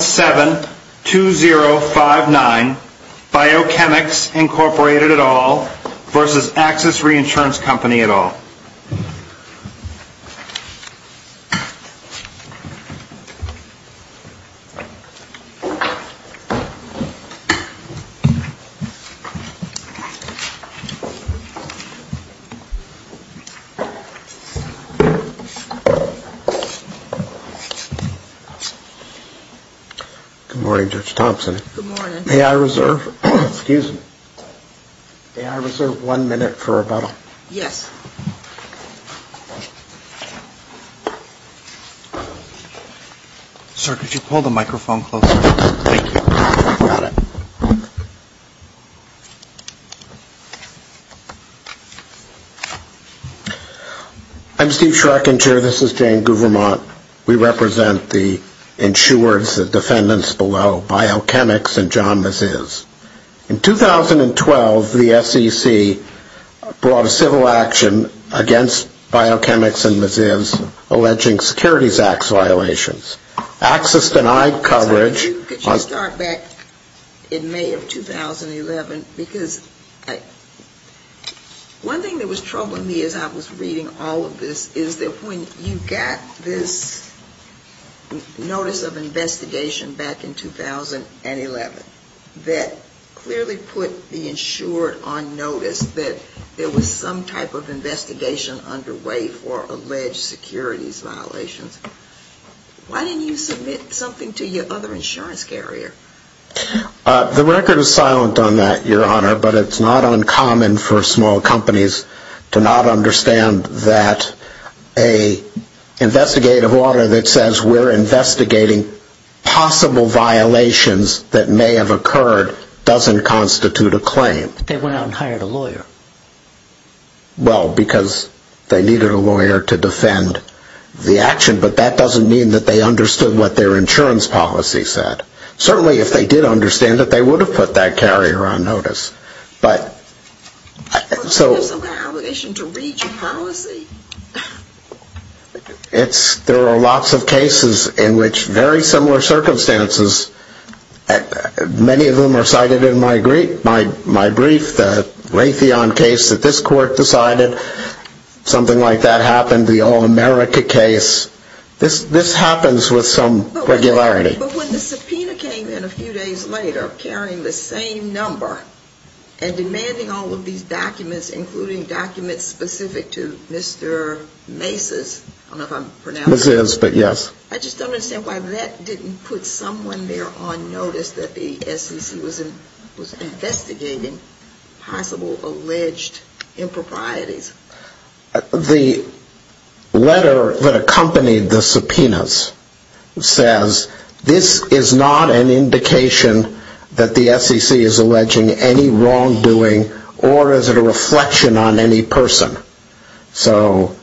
7-2059 Biochemics, Inc. v. Axis Reinsurance Company Good morning, Judge Thompson. May I reserve one minute for rebuttal? Yes. Sir, could you pull the microphone closer? Thank you. Got it. I'm Steve Schreck, and Chair, this is Jane Guvermont. We represent the insurers, the defendants below, Biochemics and John Maziz. In 2012, the SEC brought a civil action against Biochemics and Maziz alleging securities acts violations. Axis denied coverage. Could you start back in May of 2011? Because one thing that was troubling me as I was reading all of this is that when you got this notice of investigation back in 2011 that clearly put the insured on notice that there was some type of investigation underway for alleged securities violations, why didn't you submit something to your other insurance carrier? The record is silent on that, Your Honor, but it's not uncommon for small companies to not understand that an investigative order that says we're investigating possible violations that may have occurred doesn't constitute a claim. But they went out and hired a lawyer. Well, because they needed a lawyer to defend the action, but that doesn't mean that they understood what their insurance policy said. Certainly, if they did understand it, they would have put that carrier on notice. But, so... There's some kind of obligation to read your policy. There are lots of cases in which very similar circumstances, many of them are cited in my brief, the Raytheon case that this court decided, something like that happened, the All-America case. This happens with some regularity. But when the subpoena came in a few days later carrying the same number and demanding all of these documents, including documents specific to Mr. Macy's, I don't know if I'm pronouncing that right. Macy's, but yes. I just don't understand why that didn't put someone there on notice that the SEC was investigating possible alleged improprieties. The letter that accompanied the subpoenas says, this is not an indication that the SEC is alleging any wrongdoing or is it a reflection on any person. So,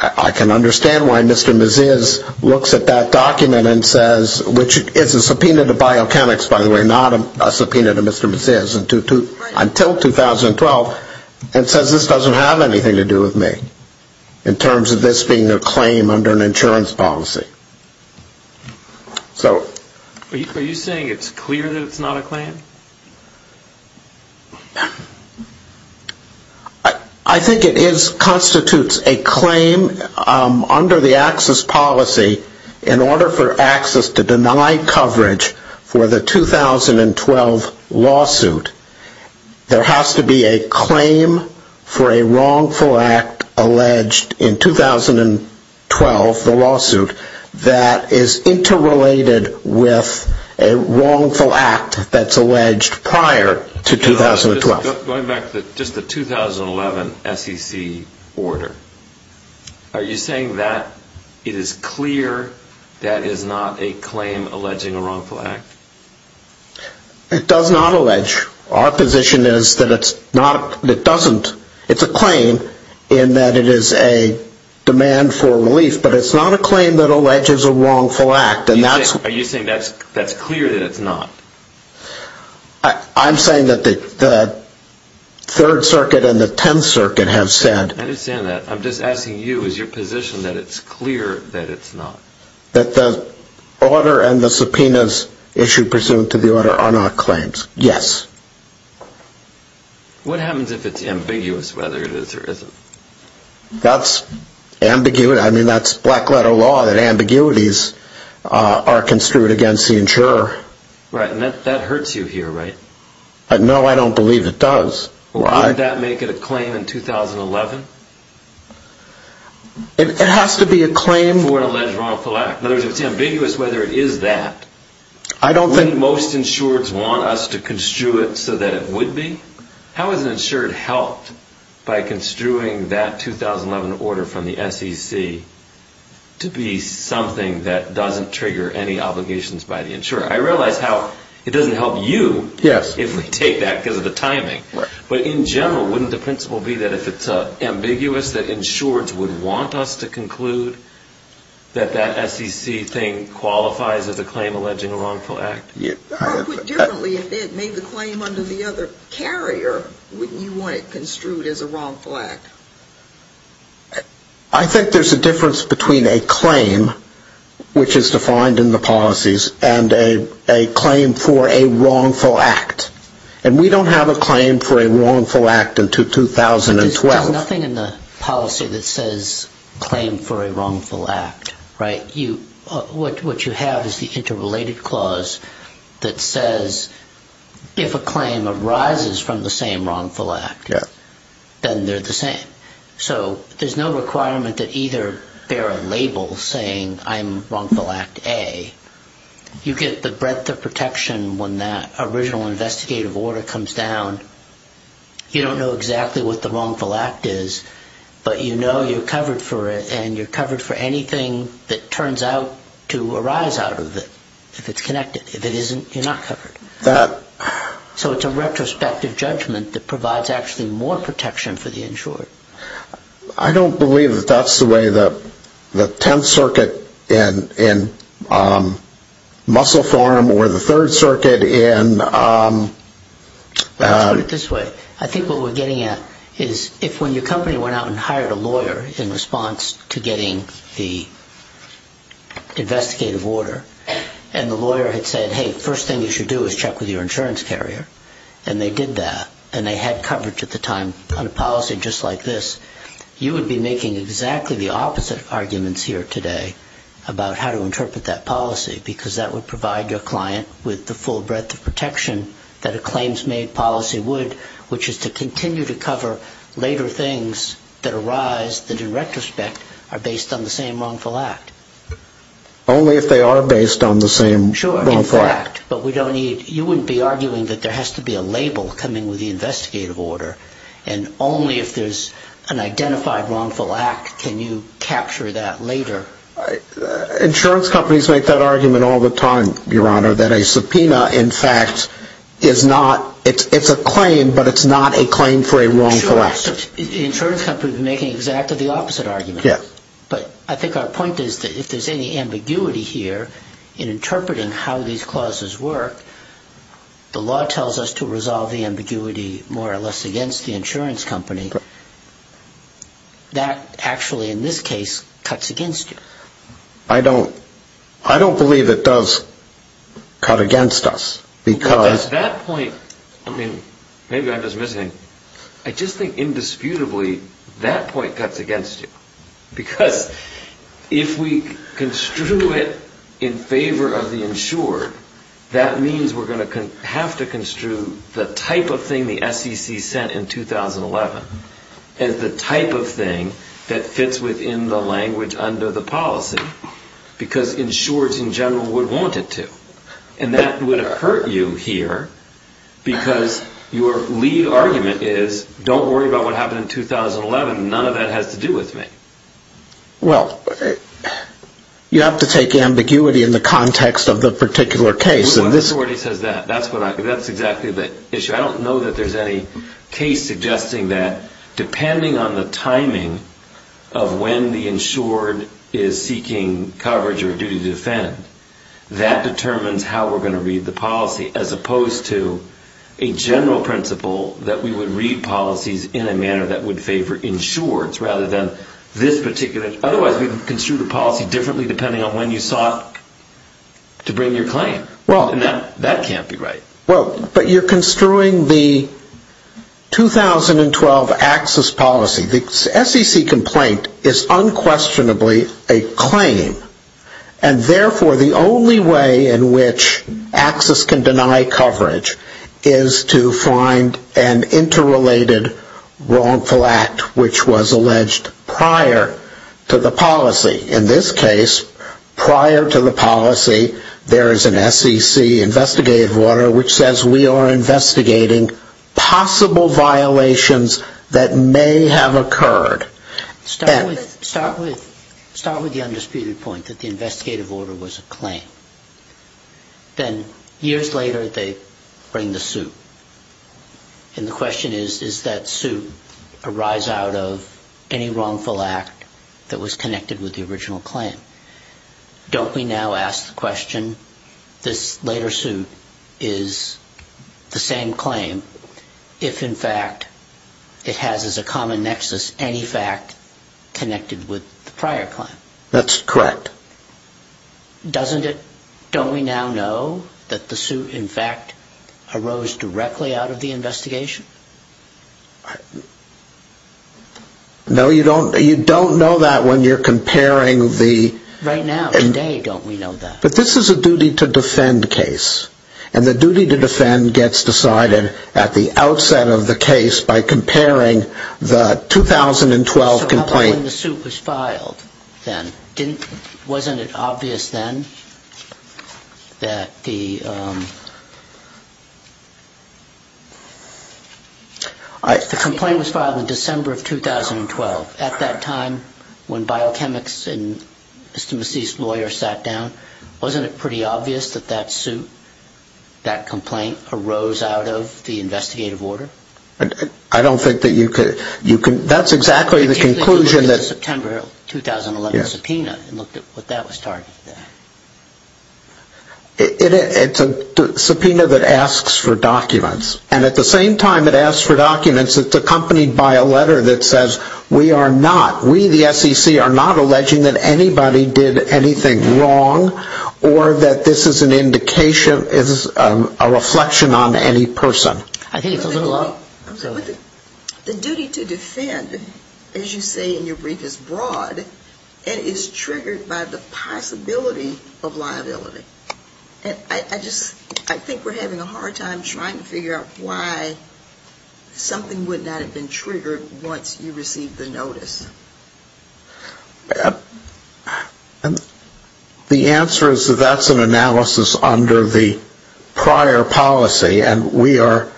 I can understand why Mr. Macy's looks at that document and says, which is a subpoena to biochemics by the way, not a subpoena to Mr. Macy's until 2012, and says this doesn't have anything to do with me in terms of this being a claim under an insurance policy. Are you saying it's clear that it's not a claim? I think it constitutes a claim under the AXIS policy in order for AXIS to deny coverage for the 2012 lawsuit. There has to be a claim for a wrongful act alleged in 2012, the lawsuit, that is interrelated with a wrongful act that's alleged prior to 2012. Going back to just the 2011 SEC order, are you saying that it is clear that it is not a claim alleging a wrongful act? It does not allege. Our position is that it's a claim in that it is a demand for relief, but it's not a claim that alleges a wrongful act. Are you saying that's clear that it's not? I'm saying that the Third Circuit and the Tenth Circuit have said... I understand that. I'm just asking you, is your position that it's clear that it's not? That the order and the subpoenas issued pursuant to the order are not claims. Yes. What happens if it's ambiguous whether it is or isn't? That's black letter law that ambiguities are construed against the insurer. Right, and that hurts you here, right? No, I don't believe it does. Why would that make it a claim in 2011? It has to be a claim for an alleged wrongful act. In other words, it's ambiguous whether it is that. I don't think... Wouldn't most insurers want us to construe it so that it would be? How has an insured helped by construing that 2011 order from the SEC to be something that doesn't trigger any obligations by the insurer? I realize how it doesn't help you if we take that because of the timing. But in general, wouldn't the principle be that if it's ambiguous, that insureds would want us to conclude that that SEC thing qualifies as a claim alleging a wrongful act? Or put differently, if it made the claim under the other carrier, wouldn't you want it construed as a wrongful act? I think there's a difference between a claim, which is defined in the policies, and a claim for a wrongful act. And we don't have a claim for a wrongful act until 2012. There's nothing in the policy that says claim for a wrongful act, right? What you have is the interrelated clause that says if a claim arises from the same wrongful act, then they're the same. So there's no requirement that either bear a label saying I'm wrongful act A. You get the breadth of protection when that original investigative order comes down. You don't know exactly what the wrongful act is, but you know you're covered for it and you're covered for anything that turns out to arise out of it, if it's connected. If it isn't, you're not covered. So it's a retrospective judgment that provides actually more protection for the insured. I don't believe that that's the way the Tenth Circuit in muscle form or the Third Circuit in... Let's put it this way. I think what we're getting at is if when your company went out and hired a lawyer in response to getting the investigative order, and the lawyer had said, hey, first thing you should do is check with your insurance carrier, and they did that and they had coverage at the time on a policy just like this, you would be making exactly the opposite arguments here today about how to interpret that policy because that would provide your client with the full breadth of protection that a claims-made policy would, which is to continue to cover later things that arise that in retrospect are based on the same wrongful act. Only if they are based on the same wrongful act. Sure, in fact, but we don't need... You wouldn't be arguing that there has to be a label coming with the investigative order, and only if there's an identified wrongful act can you capture that later. Insurance companies make that argument all the time, Your Honor, that a subpoena, in fact, is not... it's a claim, but it's not a claim for a wrongful act. Sure, the insurance company would be making exactly the opposite argument. Yes. But I think our point is that if there's any ambiguity here in interpreting how these clauses work, the law tells us to resolve the ambiguity more or less against the insurance company. That actually, in this case, cuts against you. I don't believe it does cut against us, because... At that point, I mean, maybe I'm just missing... I just think, indisputably, that point cuts against you. Because if we construe it in favor of the insured, that means we're going to have to construe the type of thing the SEC said in 2011 as the type of thing that fits within the language under the policy, because insureds, in general, would want it to. And that would have hurt you here, because your lead argument is, don't worry about what happened in 2011, none of that has to do with me. Well, you have to take ambiguity in the context of the particular case, and this... Well, I've already said that. That's exactly the issue. I don't know that there's any case suggesting that, depending on the timing of when the insured is seeking coverage or duty to defend, that determines how we're going to read the policy, as opposed to a general principle that we would read policies in a manner that would favor insureds, rather than this particular... Otherwise, we would construe the policy differently, depending on when you sought to bring your claim. And that can't be right. Well, but you're construing the 2012 AXIS policy. The SEC complaint is unquestionably a claim, and therefore the only way in which AXIS can deny coverage is to find an interrelated wrongful act which was alleged prior to the policy. In this case, prior to the policy, there is an SEC investigative order which says we are investigating possible violations that may have occurred. Start with the undisputed point that the investigative order was a claim. Then, years later, they bring the suit. And the question is, does that suit arise out of any wrongful act that was connected with the original claim? Don't we now ask the question, this later suit is the same claim, if, in fact, it has as a common nexus any fact connected with the prior claim? That's correct. Doesn't it? Don't we now know that the suit, in fact, arose directly out of the investigation? No, you don't know that when you're comparing the... Right now, today, don't we know that? But this is a duty-to-defend case, and the duty-to-defend gets decided at the outset of the case by comparing the 2012 complaint... So how about when the suit was filed then? Wasn't it obvious then that the... The complaint was filed in December of 2012. At that time, when biochemists and Mr. Massey's lawyer sat down, wasn't it pretty obvious that that suit, that complaint, arose out of the investigative order? I don't think that you could... That's exactly the conclusion that... ...the September 2011 subpoena and looked at what that was targeted at. It's a subpoena that asks for documents, and at the same time it asks for documents that's accompanied by a letter that says, we are not, we, the SEC, are not alleging that anybody did anything wrong or that this is an indication, is a reflection on any person. I think it's a little... The duty-to-defend, as you say in your brief, is broad and is triggered by the possibility of liability. And I just, I think we're having a hard time trying to figure out why something would not have been triggered once you received the notice. The answer is that that's an analysis under the prior policy, and we are...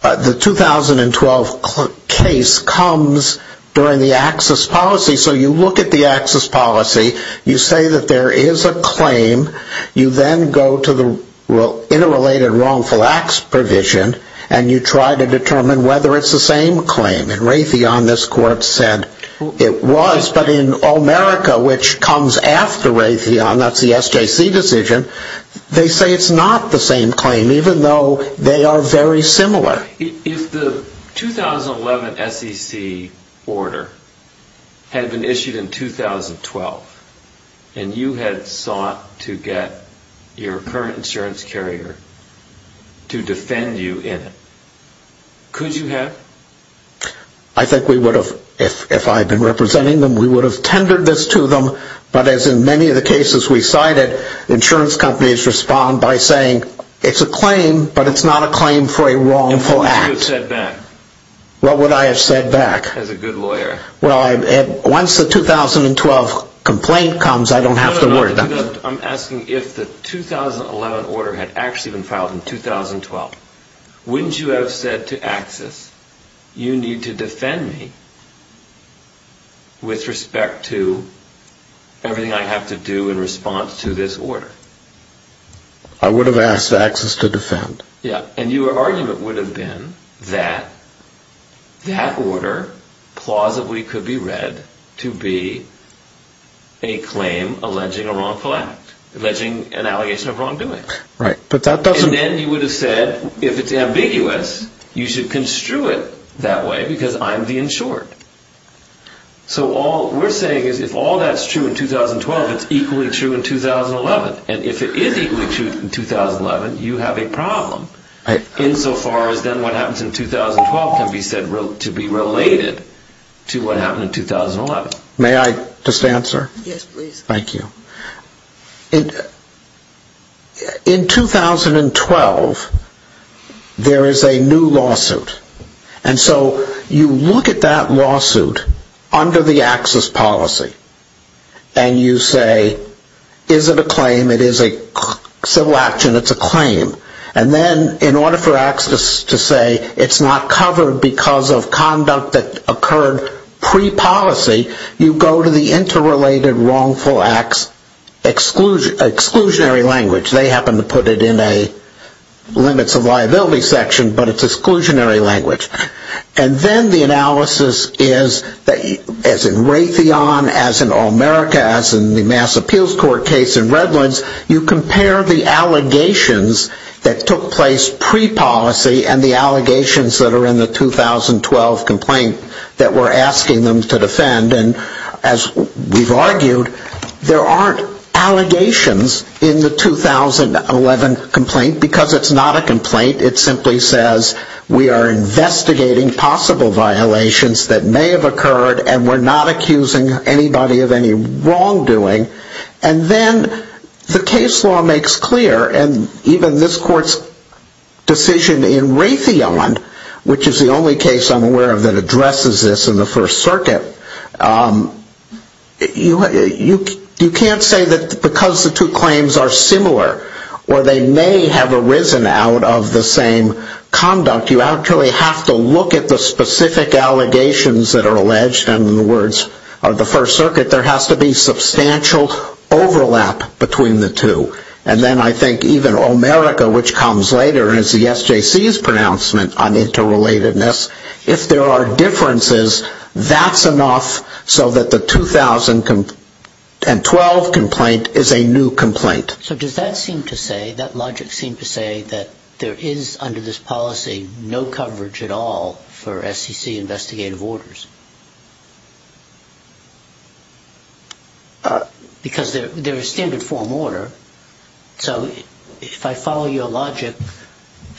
The 2012 case comes during the access policy, so you look at the access policy, you say that there is a claim, you then go to the interrelated wrongful acts provision, and you try to determine whether it's the same claim. In Raytheon, this court said it was, but in O'Merica, which comes after Raytheon, that's the SJC decision, they say it's not the same claim, even though they are very similar. If the 2011 SEC order had been issued in 2012, and you had sought to get your current insurance carrier to defend you in it, could you have? I think we would have, if I had been representing them, we would have tendered this to them, but as in many of the cases we cited, insurance companies respond by saying it's a claim, but it's not a claim for a wrongful act. What would you have said back? What would I have said back? As a good lawyer. Well, once the 2012 complaint comes, I don't have to worry about it. I'm asking if the 2011 order had actually been filed in 2012. Wouldn't you have said to Access, you need to defend me with respect to everything I have to do in response to this order? I would have asked Access to defend. Yeah, and your argument would have been that that order plausibly could be read to be a claim alleging a wrongful act, alleging an allegation of wrongdoing. Right, but that doesn't... because I'm the insured. So all we're saying is if all that's true in 2012, it's equally true in 2011, and if it is equally true in 2011, you have a problem, insofar as then what happens in 2012 can be said to be related to what happened in 2011. May I just answer? Yes, please. Thank you. In 2012, there is a new lawsuit, and so you look at that lawsuit under the Access policy, and you say, is it a claim? It is a civil action. It's a claim. And then in order for Access to say it's not covered because of conduct that occurred pre-policy, you go to the interrelated wrongful acts exclusionary language. They happen to put it in a limits of liability section, but it's exclusionary language. And then the analysis is, as in Raytheon, as in All-America, as in the Mass Appeals Court case in Redlands, you compare the allegations that took place pre-policy and the allegations that are in the 2012 complaint that we're asking them to defend, and as we've argued, there aren't allegations in the 2011 complaint because it's not a complaint. It simply says we are investigating possible violations that may have occurred and we're not accusing anybody of any wrongdoing. And then the case law makes clear, and even this court's decision in Raytheon, which is the only case I'm aware of that addresses this in the First Circuit, you can't say that because the two claims are similar or they may have arisen out of the same conduct, you actually have to look at the specific allegations that are alleged and in the words of the First Circuit, there has to be substantial overlap between the two. And then I think even All-America, which comes later, and it's the SJC's pronouncement on interrelatedness, if there are differences, that's enough so that the 2012 complaint is a new complaint. So does that logic seem to say that there is, under this policy, no coverage at all for SCC investigative orders? Because they're a standard form order, so if I follow your logic,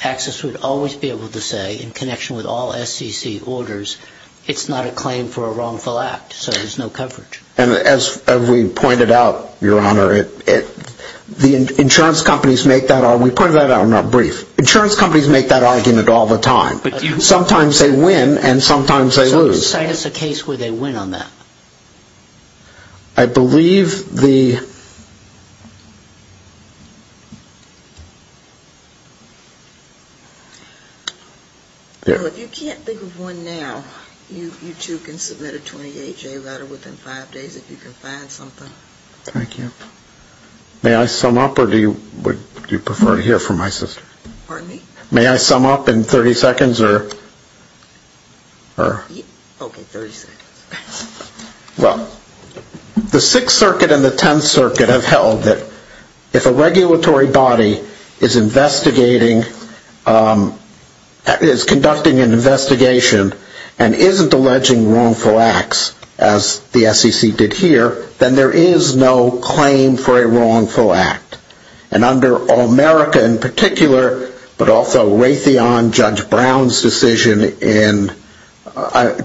Axis would always be able to say, in connection with all SCC orders, it's not a claim for a wrongful act, so there's no coverage. And as we pointed out, Your Honor, the insurance companies make that argument, we pointed that out in our brief, insurance companies make that argument all the time. Sometimes they win and sometimes they lose. So you're saying it's a case where they win on that? I believe the... If you can't think of one now, you too can submit a 28-J letter within five days if you can find something. Thank you. May I sum up, or would you prefer to hear from my sister? Pardon me? May I sum up in 30 seconds, or... Okay, 30 seconds. Well, the Sixth Circuit and the Tenth Circuit have held that if a regulatory body is investigating, is conducting an investigation, and isn't alleging wrongful acts, as the SCC did here, then there is no claim for a wrongful act. And under America in particular, but also Raytheon, Judge Brown's decision in...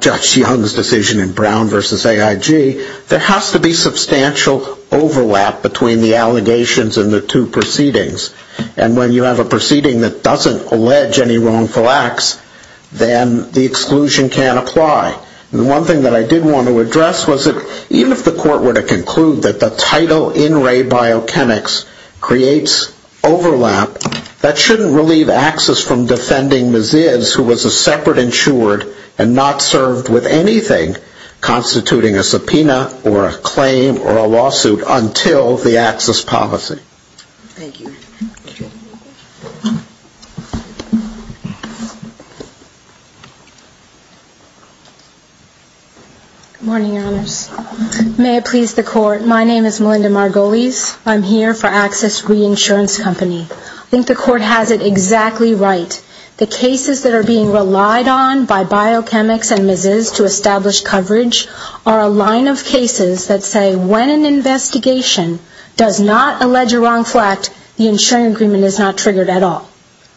Judge Young's decision in Brown v. AIG, there has to be substantial overlap between the allegations and the two proceedings. And when you have a proceeding that doesn't allege any wrongful acts, then the exclusion can't apply. And the one thing that I did want to address was that even if the court were to conclude that the title in Ray Biokinics creates overlap, that shouldn't relieve Axis from defending Maziz, who was a separate insured and not served with anything constituting a subpoena or a claim or a lawsuit until the Axis policy. Thank you. Good morning, Your Honors. May it please the court, my name is Melinda Margolis. I'm here for Axis Reinsurance Company. I think the court has it exactly right. The cases that are being relied on by biochemics and Maziz to establish coverage are a line of cases that say when an investigation does not allege a wrongful act, the insuring agreement is not triggered at all.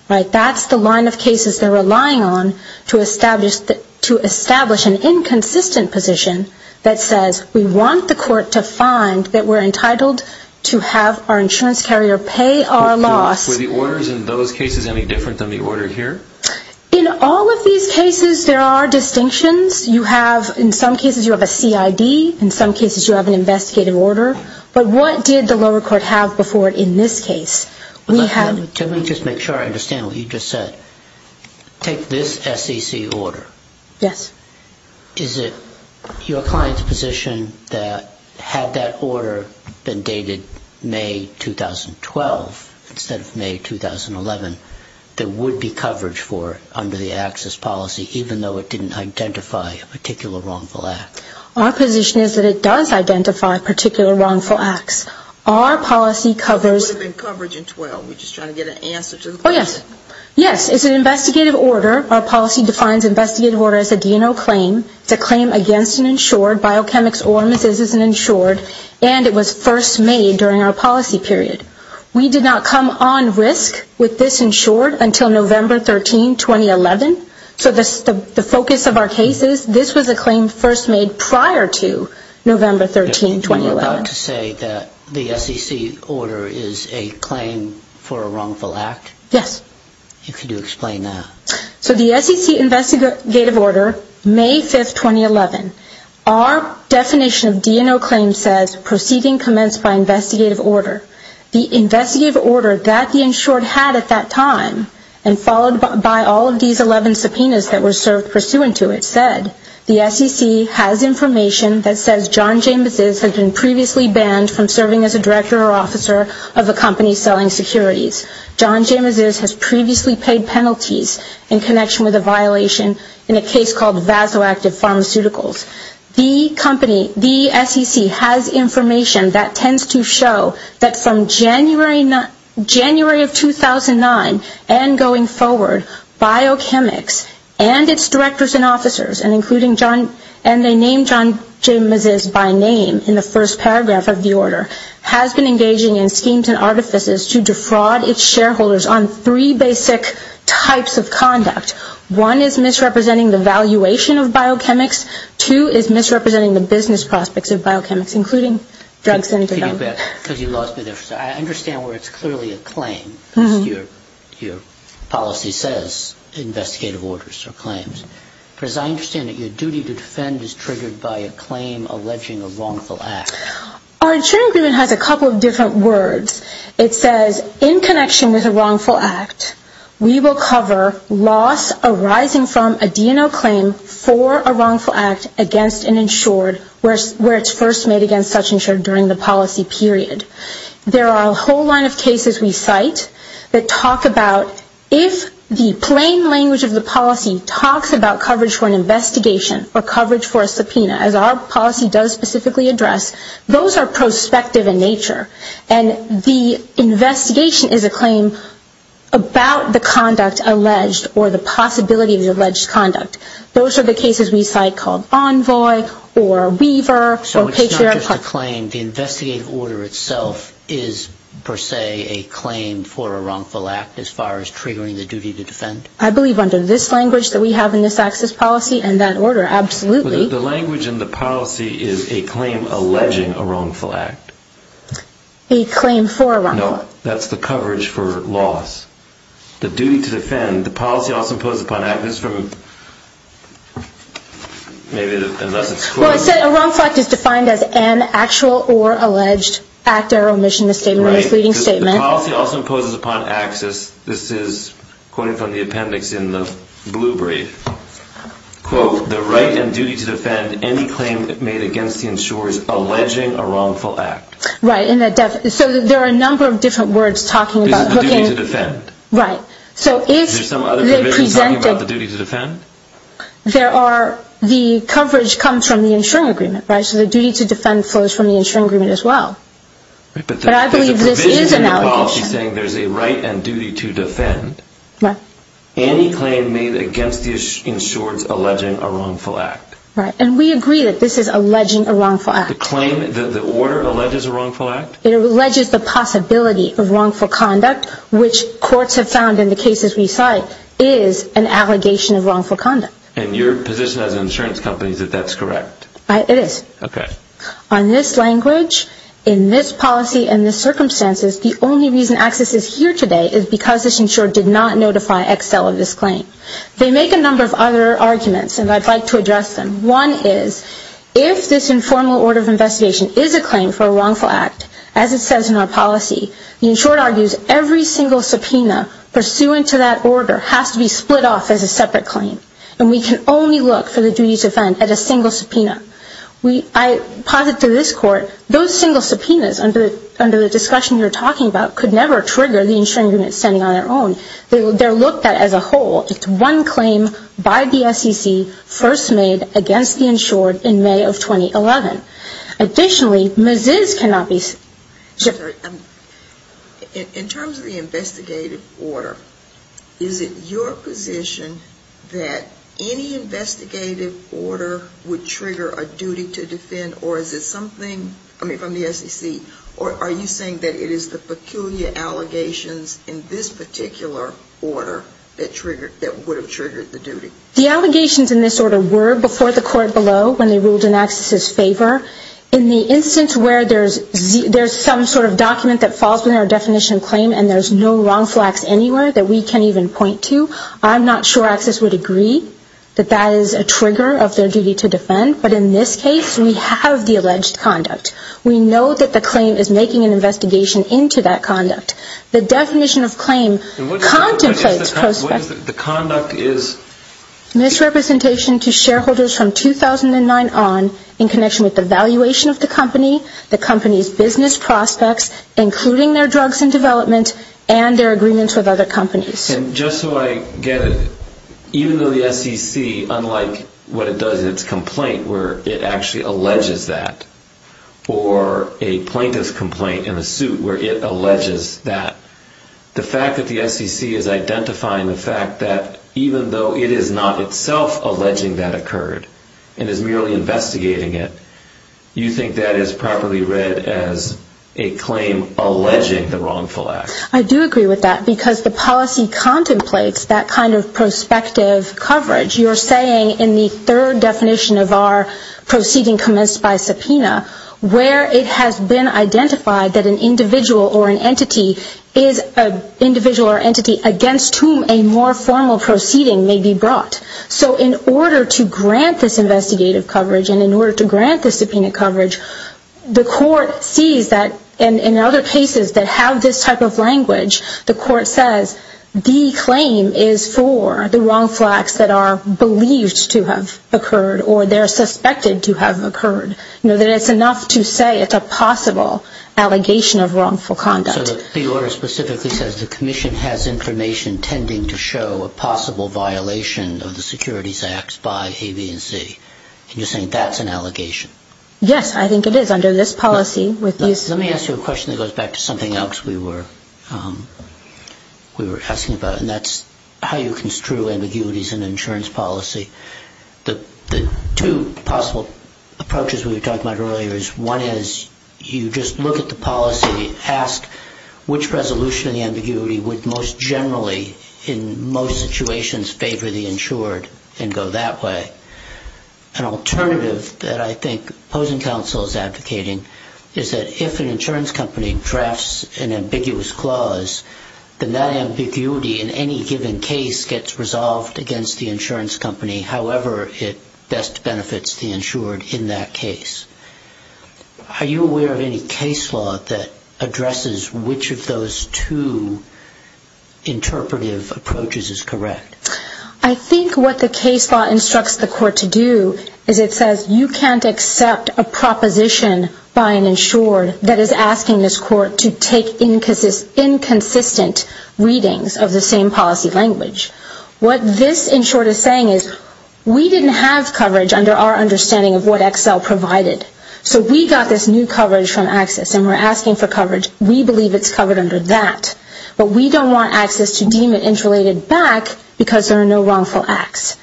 Right? That's the line of cases they're relying on to establish an inconsistent position that says we want the court to find that we're entitled to have our insurance carrier pay our loss. Were the orders in those cases any different than the order here? In all of these cases there are distinctions. In some cases you have a CID. In some cases you have an investigative order. But what did the lower court have before it in this case? Let me just make sure I understand what you just said. Take this SEC order. Yes. Is it your client's position that had that order been dated May 2012 instead of May 2011, there would be coverage for it under the Axis policy, even though it didn't identify a particular wrongful act? Our position is that it does identify particular wrongful acts. Our policy covers... There would have been coverage in 12. We're just trying to get an answer to the question. Oh, yes. Yes, it's an investigative order. Our policy defines investigative order as a D&O claim. It's a claim against an insured. Biochemics or medicines is an insured. And it was first made during our policy period. We did not come on risk with this insured until November 13, 2011. So the focus of our case is this was a claim first made prior to November 13, 2011. You're about to say that the SEC order is a claim for a wrongful act? Yes. If you could explain that. So the SEC investigative order, May 5, 2011, our definition of D&O claim says proceeding commenced by investigative order. The investigative order that the insured had at that time and followed by all of these 11 subpoenas that were served pursuant to it said, the SEC has information that says John James has been previously banned from serving as a director or officer of a company selling securities. John James has previously paid penalties in connection with a violation in a case called Vasoactive Pharmaceuticals. The company, the SEC, has information that tends to show that from January of 2009 and going forward, Biochemics and its directors and officers, and they named John James by name in the first paragraph of the order, has been engaging in schemes and artifices to defraud its shareholders on three basic types of conduct. One is misrepresenting the valuation of Biochemics. Two is misrepresenting the business prospects of Biochemics, including drugs and tobacco. I understand where it's clearly a claim. Your policy says investigative orders are claims. Because I understand that your duty to defend is triggered by a claim alleging a wrongful act. Our insurance agreement has a couple of different words. It says, in connection with a wrongful act, we will cover loss arising from a D&O claim for a wrongful act against an insured where it's first made against such insured during the policy period. There are a whole line of cases we cite that talk about if the plain language of the policy talks about coverage for an investigation or coverage for a subpoena, as our policy does specifically address, those are prospective in nature. And the investigation is a claim about the conduct alleged or the possibility of the alleged conduct. Those are the cases we cite called Envoy or Weaver or Patriot. So it's not just a claim. The investigative order itself is, per se, a claim for a wrongful act as far as triggering the duty to defend? I believe under this language that we have in this access policy and that order, absolutely. Well, the language in the policy is a claim alleging a wrongful act. A claim for a wrongful act. No, that's the coverage for loss. The duty to defend, the policy also imposes upon access from, maybe unless it's quoted. Well, it said a wrongful act is defined as an actual or alleged act or omission of statement or misleading statement. Right, because the policy also imposes upon access, this is quoted from the appendix in the blue brief, quote, the right and duty to defend any claim made against the insurers alleging a wrongful act. Right. So there are a number of different words talking about looking. This is the duty to defend. Right. Is there some other provision talking about the duty to defend? The coverage comes from the insuring agreement. So the duty to defend flows from the insuring agreement as well. But I believe this is an allegation. There's a provision in the policy saying there's a right and duty to defend. Right. Any claim made against the insurers alleging a wrongful act. Right. And we agree that this is alleging a wrongful act. The claim, the order alleges a wrongful act? It alleges the possibility of wrongful conduct, which courts have found in the cases we cite, is an allegation of wrongful conduct. And your position as an insurance company is that that's correct? It is. Okay. On this language, in this policy, in this circumstances, the only reason AXIS is here today is because this insurer did not notify Excel of this claim. They make a number of other arguments, and I'd like to address them. One is if this informal order of investigation is a claim for a wrongful act, as it says in our policy, the insurer argues every single subpoena pursuant to that order has to be split off as a separate claim. And we can only look for the duty to defend at a single subpoena. I posit to this court, those single subpoenas under the discussion you're talking about could never trigger the insuring unit standing on their own. They're looked at as a whole. It's one claim by the SEC first made against the insured in May of 2011. Additionally, MS-IS cannot be ---- In terms of the investigative order, is it your position that any investigative order would trigger a duty to defend, or is it something, I mean, from the SEC, or are you saying that it is the peculiar allegations in this particular order that would have triggered the duty? The allegations in this order were before the court below when they ruled in AXIS's favor. In the instance where there's some sort of document that falls within our definition of claim and there's no wrongful acts anywhere that we can even point to, I'm not sure AXIS would agree that that is a trigger of their duty to defend. But in this case, we have the alleged conduct. We know that the claim is making an investigation into that conduct. The definition of claim contemplates ---- What is the conduct? Misrepresentation to shareholders from 2009 on in connection with the valuation of the company, the company's business prospects, including their drugs and development, and their agreements with other companies. And just so I get it, even though the SEC, unlike what it does in its complaint where it actually alleges that, or a plaintiff's complaint in the suit where it alleges that, the fact that the SEC is identifying the fact that even though it is not itself alleging that occurred and is merely investigating it, you think that is properly read as a claim alleging the wrongful act? I do agree with that because the policy contemplates that kind of prospective coverage. You're saying in the third definition of our proceeding commenced by subpoena, where it has been identified that an individual or an entity is an individual or entity against whom a more formal proceeding may be brought. So in order to grant this investigative coverage and in order to grant this subpoena coverage, the court sees that in other cases that have this type of language, the court says the claim is for the wrongful acts that are believed to have occurred or they're suspected to have occurred, that it's enough to say it's a possible allegation of wrongful conduct. So the order specifically says the commission has information tending to show a possible violation of the securities acts by A, B, and C. And you're saying that's an allegation? Yes, I think it is under this policy. Let me ask you a question that goes back to something else we were asking about, and that's how you construe ambiguities in insurance policy. The two possible approaches we were talking about earlier is one is you just look at the policy, ask which resolution of the ambiguity would most generally in most situations favor the insured and go that way. An alternative that I think opposing counsel is advocating is that if an insurance company drafts an ambiguous clause, then that ambiguity in any given case gets resolved against the insurance company, however it best benefits the insured in that case. Are you aware of any case law that addresses which of those two interpretive approaches is correct? I think what the case law instructs the court to do is it says you can't accept a proposition by an insured that is asking this court to take inconsistent readings of the same policy language. What this insured is saying is we didn't have coverage under our understanding of what Excel provided. So we got this new coverage from Access and we're asking for coverage. We believe it's covered under that. But we don't want Access to deem it interrelated back because there are no wrongful acts.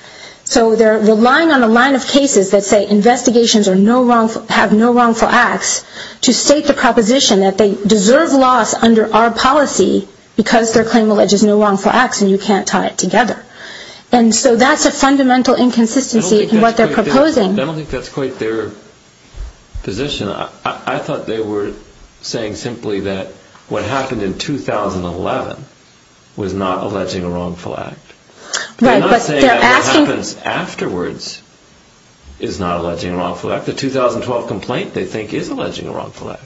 So they're relying on a line of cases that say investigations have no wrongful acts to state the proposition that they deserve loss under our policy because their claim alleges no wrongful acts and you can't tie it together. And so that's a fundamental inconsistency in what they're proposing. I don't think that's quite their position. I thought they were saying simply that what happened in 2011 was not alleging a wrongful act. They're not saying what happens afterwards is not alleging a wrongful act. The 2012 complaint they think is alleging a wrongful act.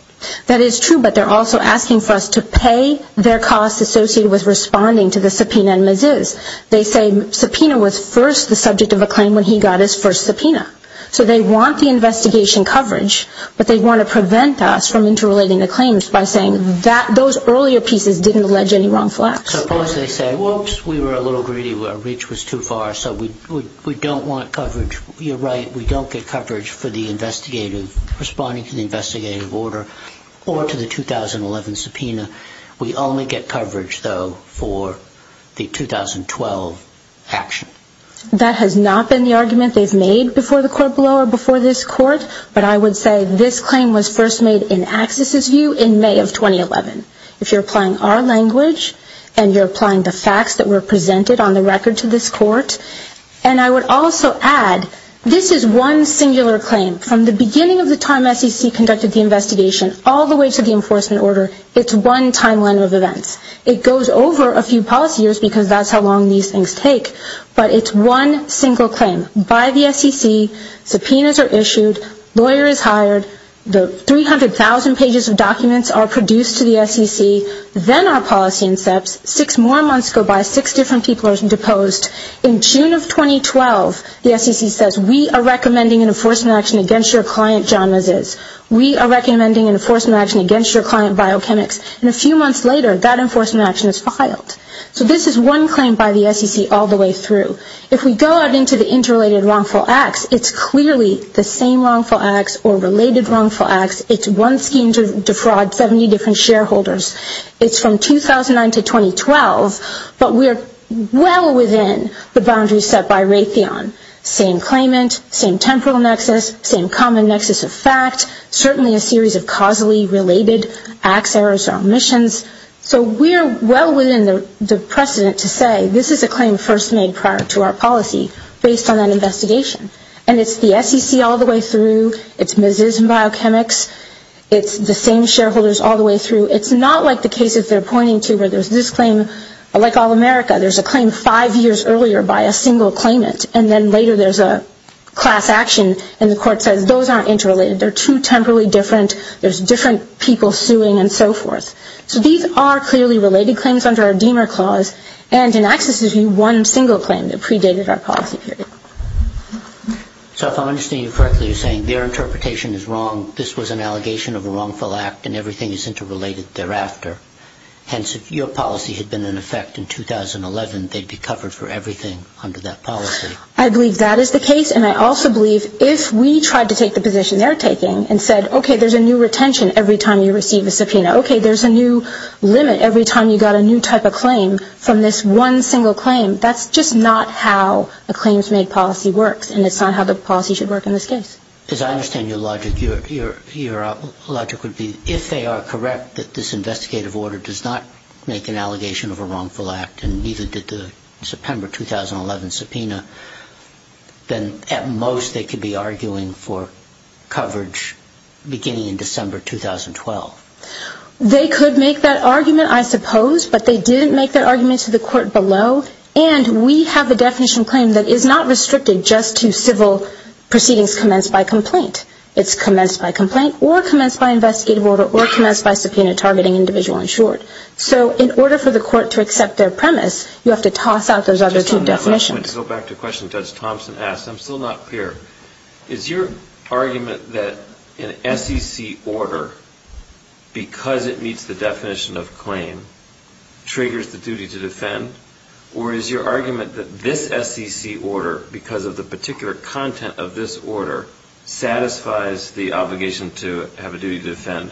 That is true, but they're also asking for us to pay their costs associated with responding to the subpoena in Mazuz. They say subpoena was first the subject of a claim when he got his first subpoena. So they want the investigation coverage, but they want to prevent us from interrelating the claims by saying those earlier pieces didn't allege any wrongful acts. Suppose they say, whoops, we were a little greedy, our reach was too far, so we don't want coverage. You're right, we don't get coverage for responding to the investigative order or to the 2011 subpoena. We only get coverage, though, for the 2012 action. That has not been the argument they've made before the court below or before this court, but I would say this claim was first made in Axis's view in May of 2011. If you're applying our language and you're applying the facts that were presented on the record to this court, and I would also add, this is one singular claim. From the beginning of the time SEC conducted the investigation all the way to the enforcement order, it's one timeline of events. It goes over a few policy years because that's how long these things take, but it's one single claim by the SEC. Subpoenas are issued. Lawyer is hired. The 300,000 pages of documents are produced to the SEC. Then our policy incepts. Six more months go by. Six different people are deposed. In June of 2012, the SEC says, we are recommending an enforcement action against your client, John Maziz. We are recommending an enforcement action against your client, Biochemics. And a few months later, that enforcement action is filed. So this is one claim by the SEC all the way through. If we go out into the interrelated wrongful acts, it's clearly the same wrongful acts or related wrongful acts. It's one scheme to defraud 70 different shareholders. It's from 2009 to 2012, but we're well within the boundaries set by Raytheon. Same claimant, same temporal nexus, same common nexus of fact, certainly a series of causally related acts, errors, or omissions. So we're well within the precedent to say this is a claim first made prior to our policy based on that investigation. And it's the SEC all the way through. It's Maziz and Biochemics. It's the same shareholders all the way through. It's not like the cases they're pointing to where there's this claim. Like All America, there's a claim five years earlier by a single claimant. And then later there's a class action, and the court says those aren't interrelated. They're two temporally different. There's different people suing and so forth. So these are clearly related claims under our Deamer Clause, and it accesses you one single claim that predated our policy period. So if I'm understanding you correctly, you're saying their interpretation is wrong. This was an allegation of a wrongful act, and everything is interrelated thereafter. Hence, if your policy had been in effect in 2011, they'd be covered for everything under that policy. I believe that is the case, and I also believe if we tried to take the position they're taking and said, okay, there's a new retention every time you receive a subpoena. Okay, there's a new limit every time you got a new type of claim from this one single claim. That's just not how a claims-made policy works, and it's not how the policy should work in this case. As I understand your logic, your logic would be if they are correct that this investigative order does not make an allegation of a wrongful act, and neither did the September 2011 subpoena, then at most they could be arguing for coverage beginning in December 2012. They could make that argument, I suppose, but they didn't make that argument to the court below, and we have a definition of claim that is not restricted just to civil proceedings commenced by complaint. It's commenced by complaint, or commenced by investigative order, or commenced by subpoena targeting individual and short. So in order for the court to accept their premise, you have to toss out those other two definitions. I want to go back to a question Judge Thompson asked. I'm still not clear. Is your argument that an SEC order, because it meets the definition of claim, triggers the duty to defend? Or is your argument that this SEC order, because of the particular content of this order, satisfies the obligation to have a duty to defend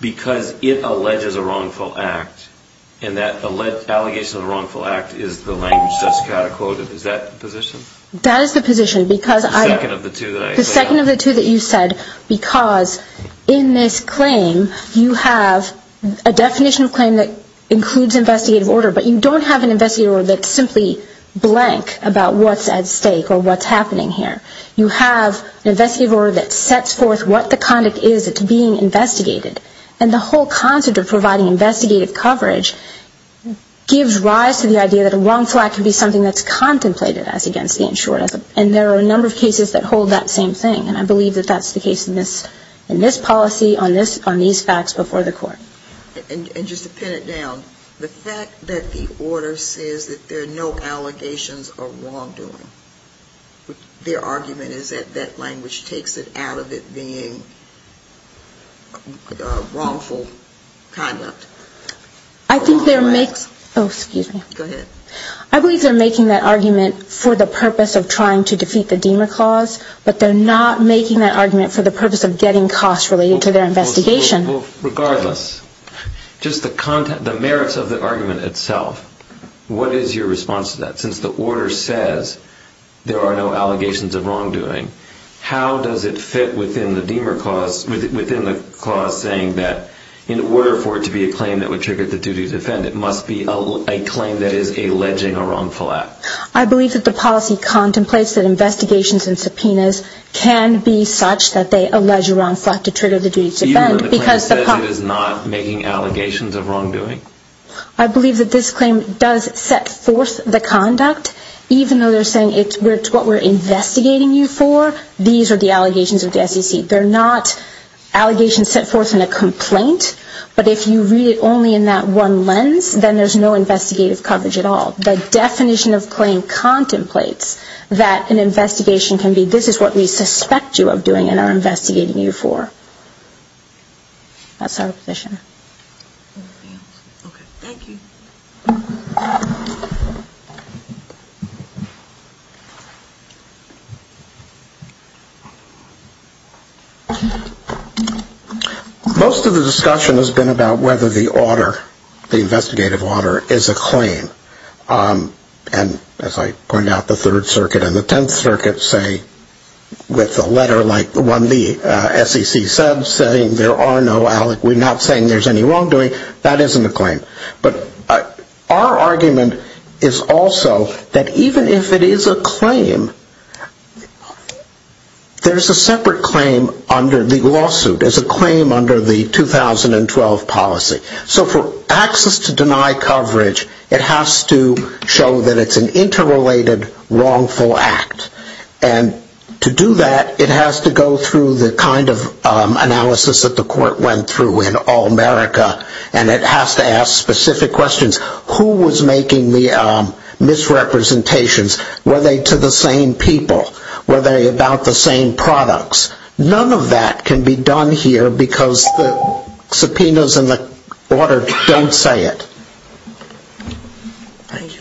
because it alleges a wrongful act, and that the allegation of a wrongful act is the language just catechoted? Is that the position? That is the position, because I... The second of the two that I... The second of the two that you said, because in this claim you have a definition of claim that includes investigative order, but you don't have an investigative order that's simply blank about what's at stake or what's happening here. You have an investigative order that sets forth what the conduct is that's being investigated, and the whole concept of providing investigative coverage gives rise to the idea that a wrongful act can be something that's contemplated as against the insured. And there are a number of cases that hold that same thing, and I believe that that's the case in this policy, on these facts before the court. And just to pin it down, the fact that the order says that there are no allegations of wrongdoing, their argument is that that language takes it out of it being wrongful conduct. I think they're making... Oh, excuse me. Go ahead. I believe they're making that argument for the purpose of trying to defeat the Demer Clause, but they're not making that argument for the purpose of getting costs related to their investigation. Regardless, just the merits of the argument itself, what is your response to that? Since the order says there are no allegations of wrongdoing, how does it fit within the Demer Clause, within the clause saying that in order for it to be a claim that would trigger the duty to defend, it must be a claim that is alleging a wrongful act? I believe that the policy contemplates that investigations and subpoenas can be such that they allege a wrongful act to trigger the duty to defend because the... Even though the claim says it is not making allegations of wrongdoing? I believe that this claim does set forth the conduct, even though they're saying it's what we're investigating you for, these are the allegations of the SEC. They're not allegations set forth in a complaint, but if you read it only in that one lens, then there's no investigative coverage at all. The definition of claim contemplates that an investigation can be, this is what we suspect you of doing and are investigating you for. That's our position. Okay, thank you. Most of the discussion has been about whether the order, the investigative order, is a claim. And as I pointed out, the Third Circuit and the Tenth Circuit say with a letter like the one the SEC said, we're not saying there's any wrongdoing, that isn't a claim. But our argument is also that even if it is a claim, there's a separate claim under the lawsuit, there's a claim under the 2012 policy. So for access to deny coverage, it has to show that it's an interrelated wrongful act. And to do that, it has to go through the kind of analysis that the court went through in All-America and it has to ask specific questions. Who was making the misrepresentations? Were they to the same people? Were they about the same products? None of that can be done here because the subpoenas in the order don't say it. Thank you. Thank you.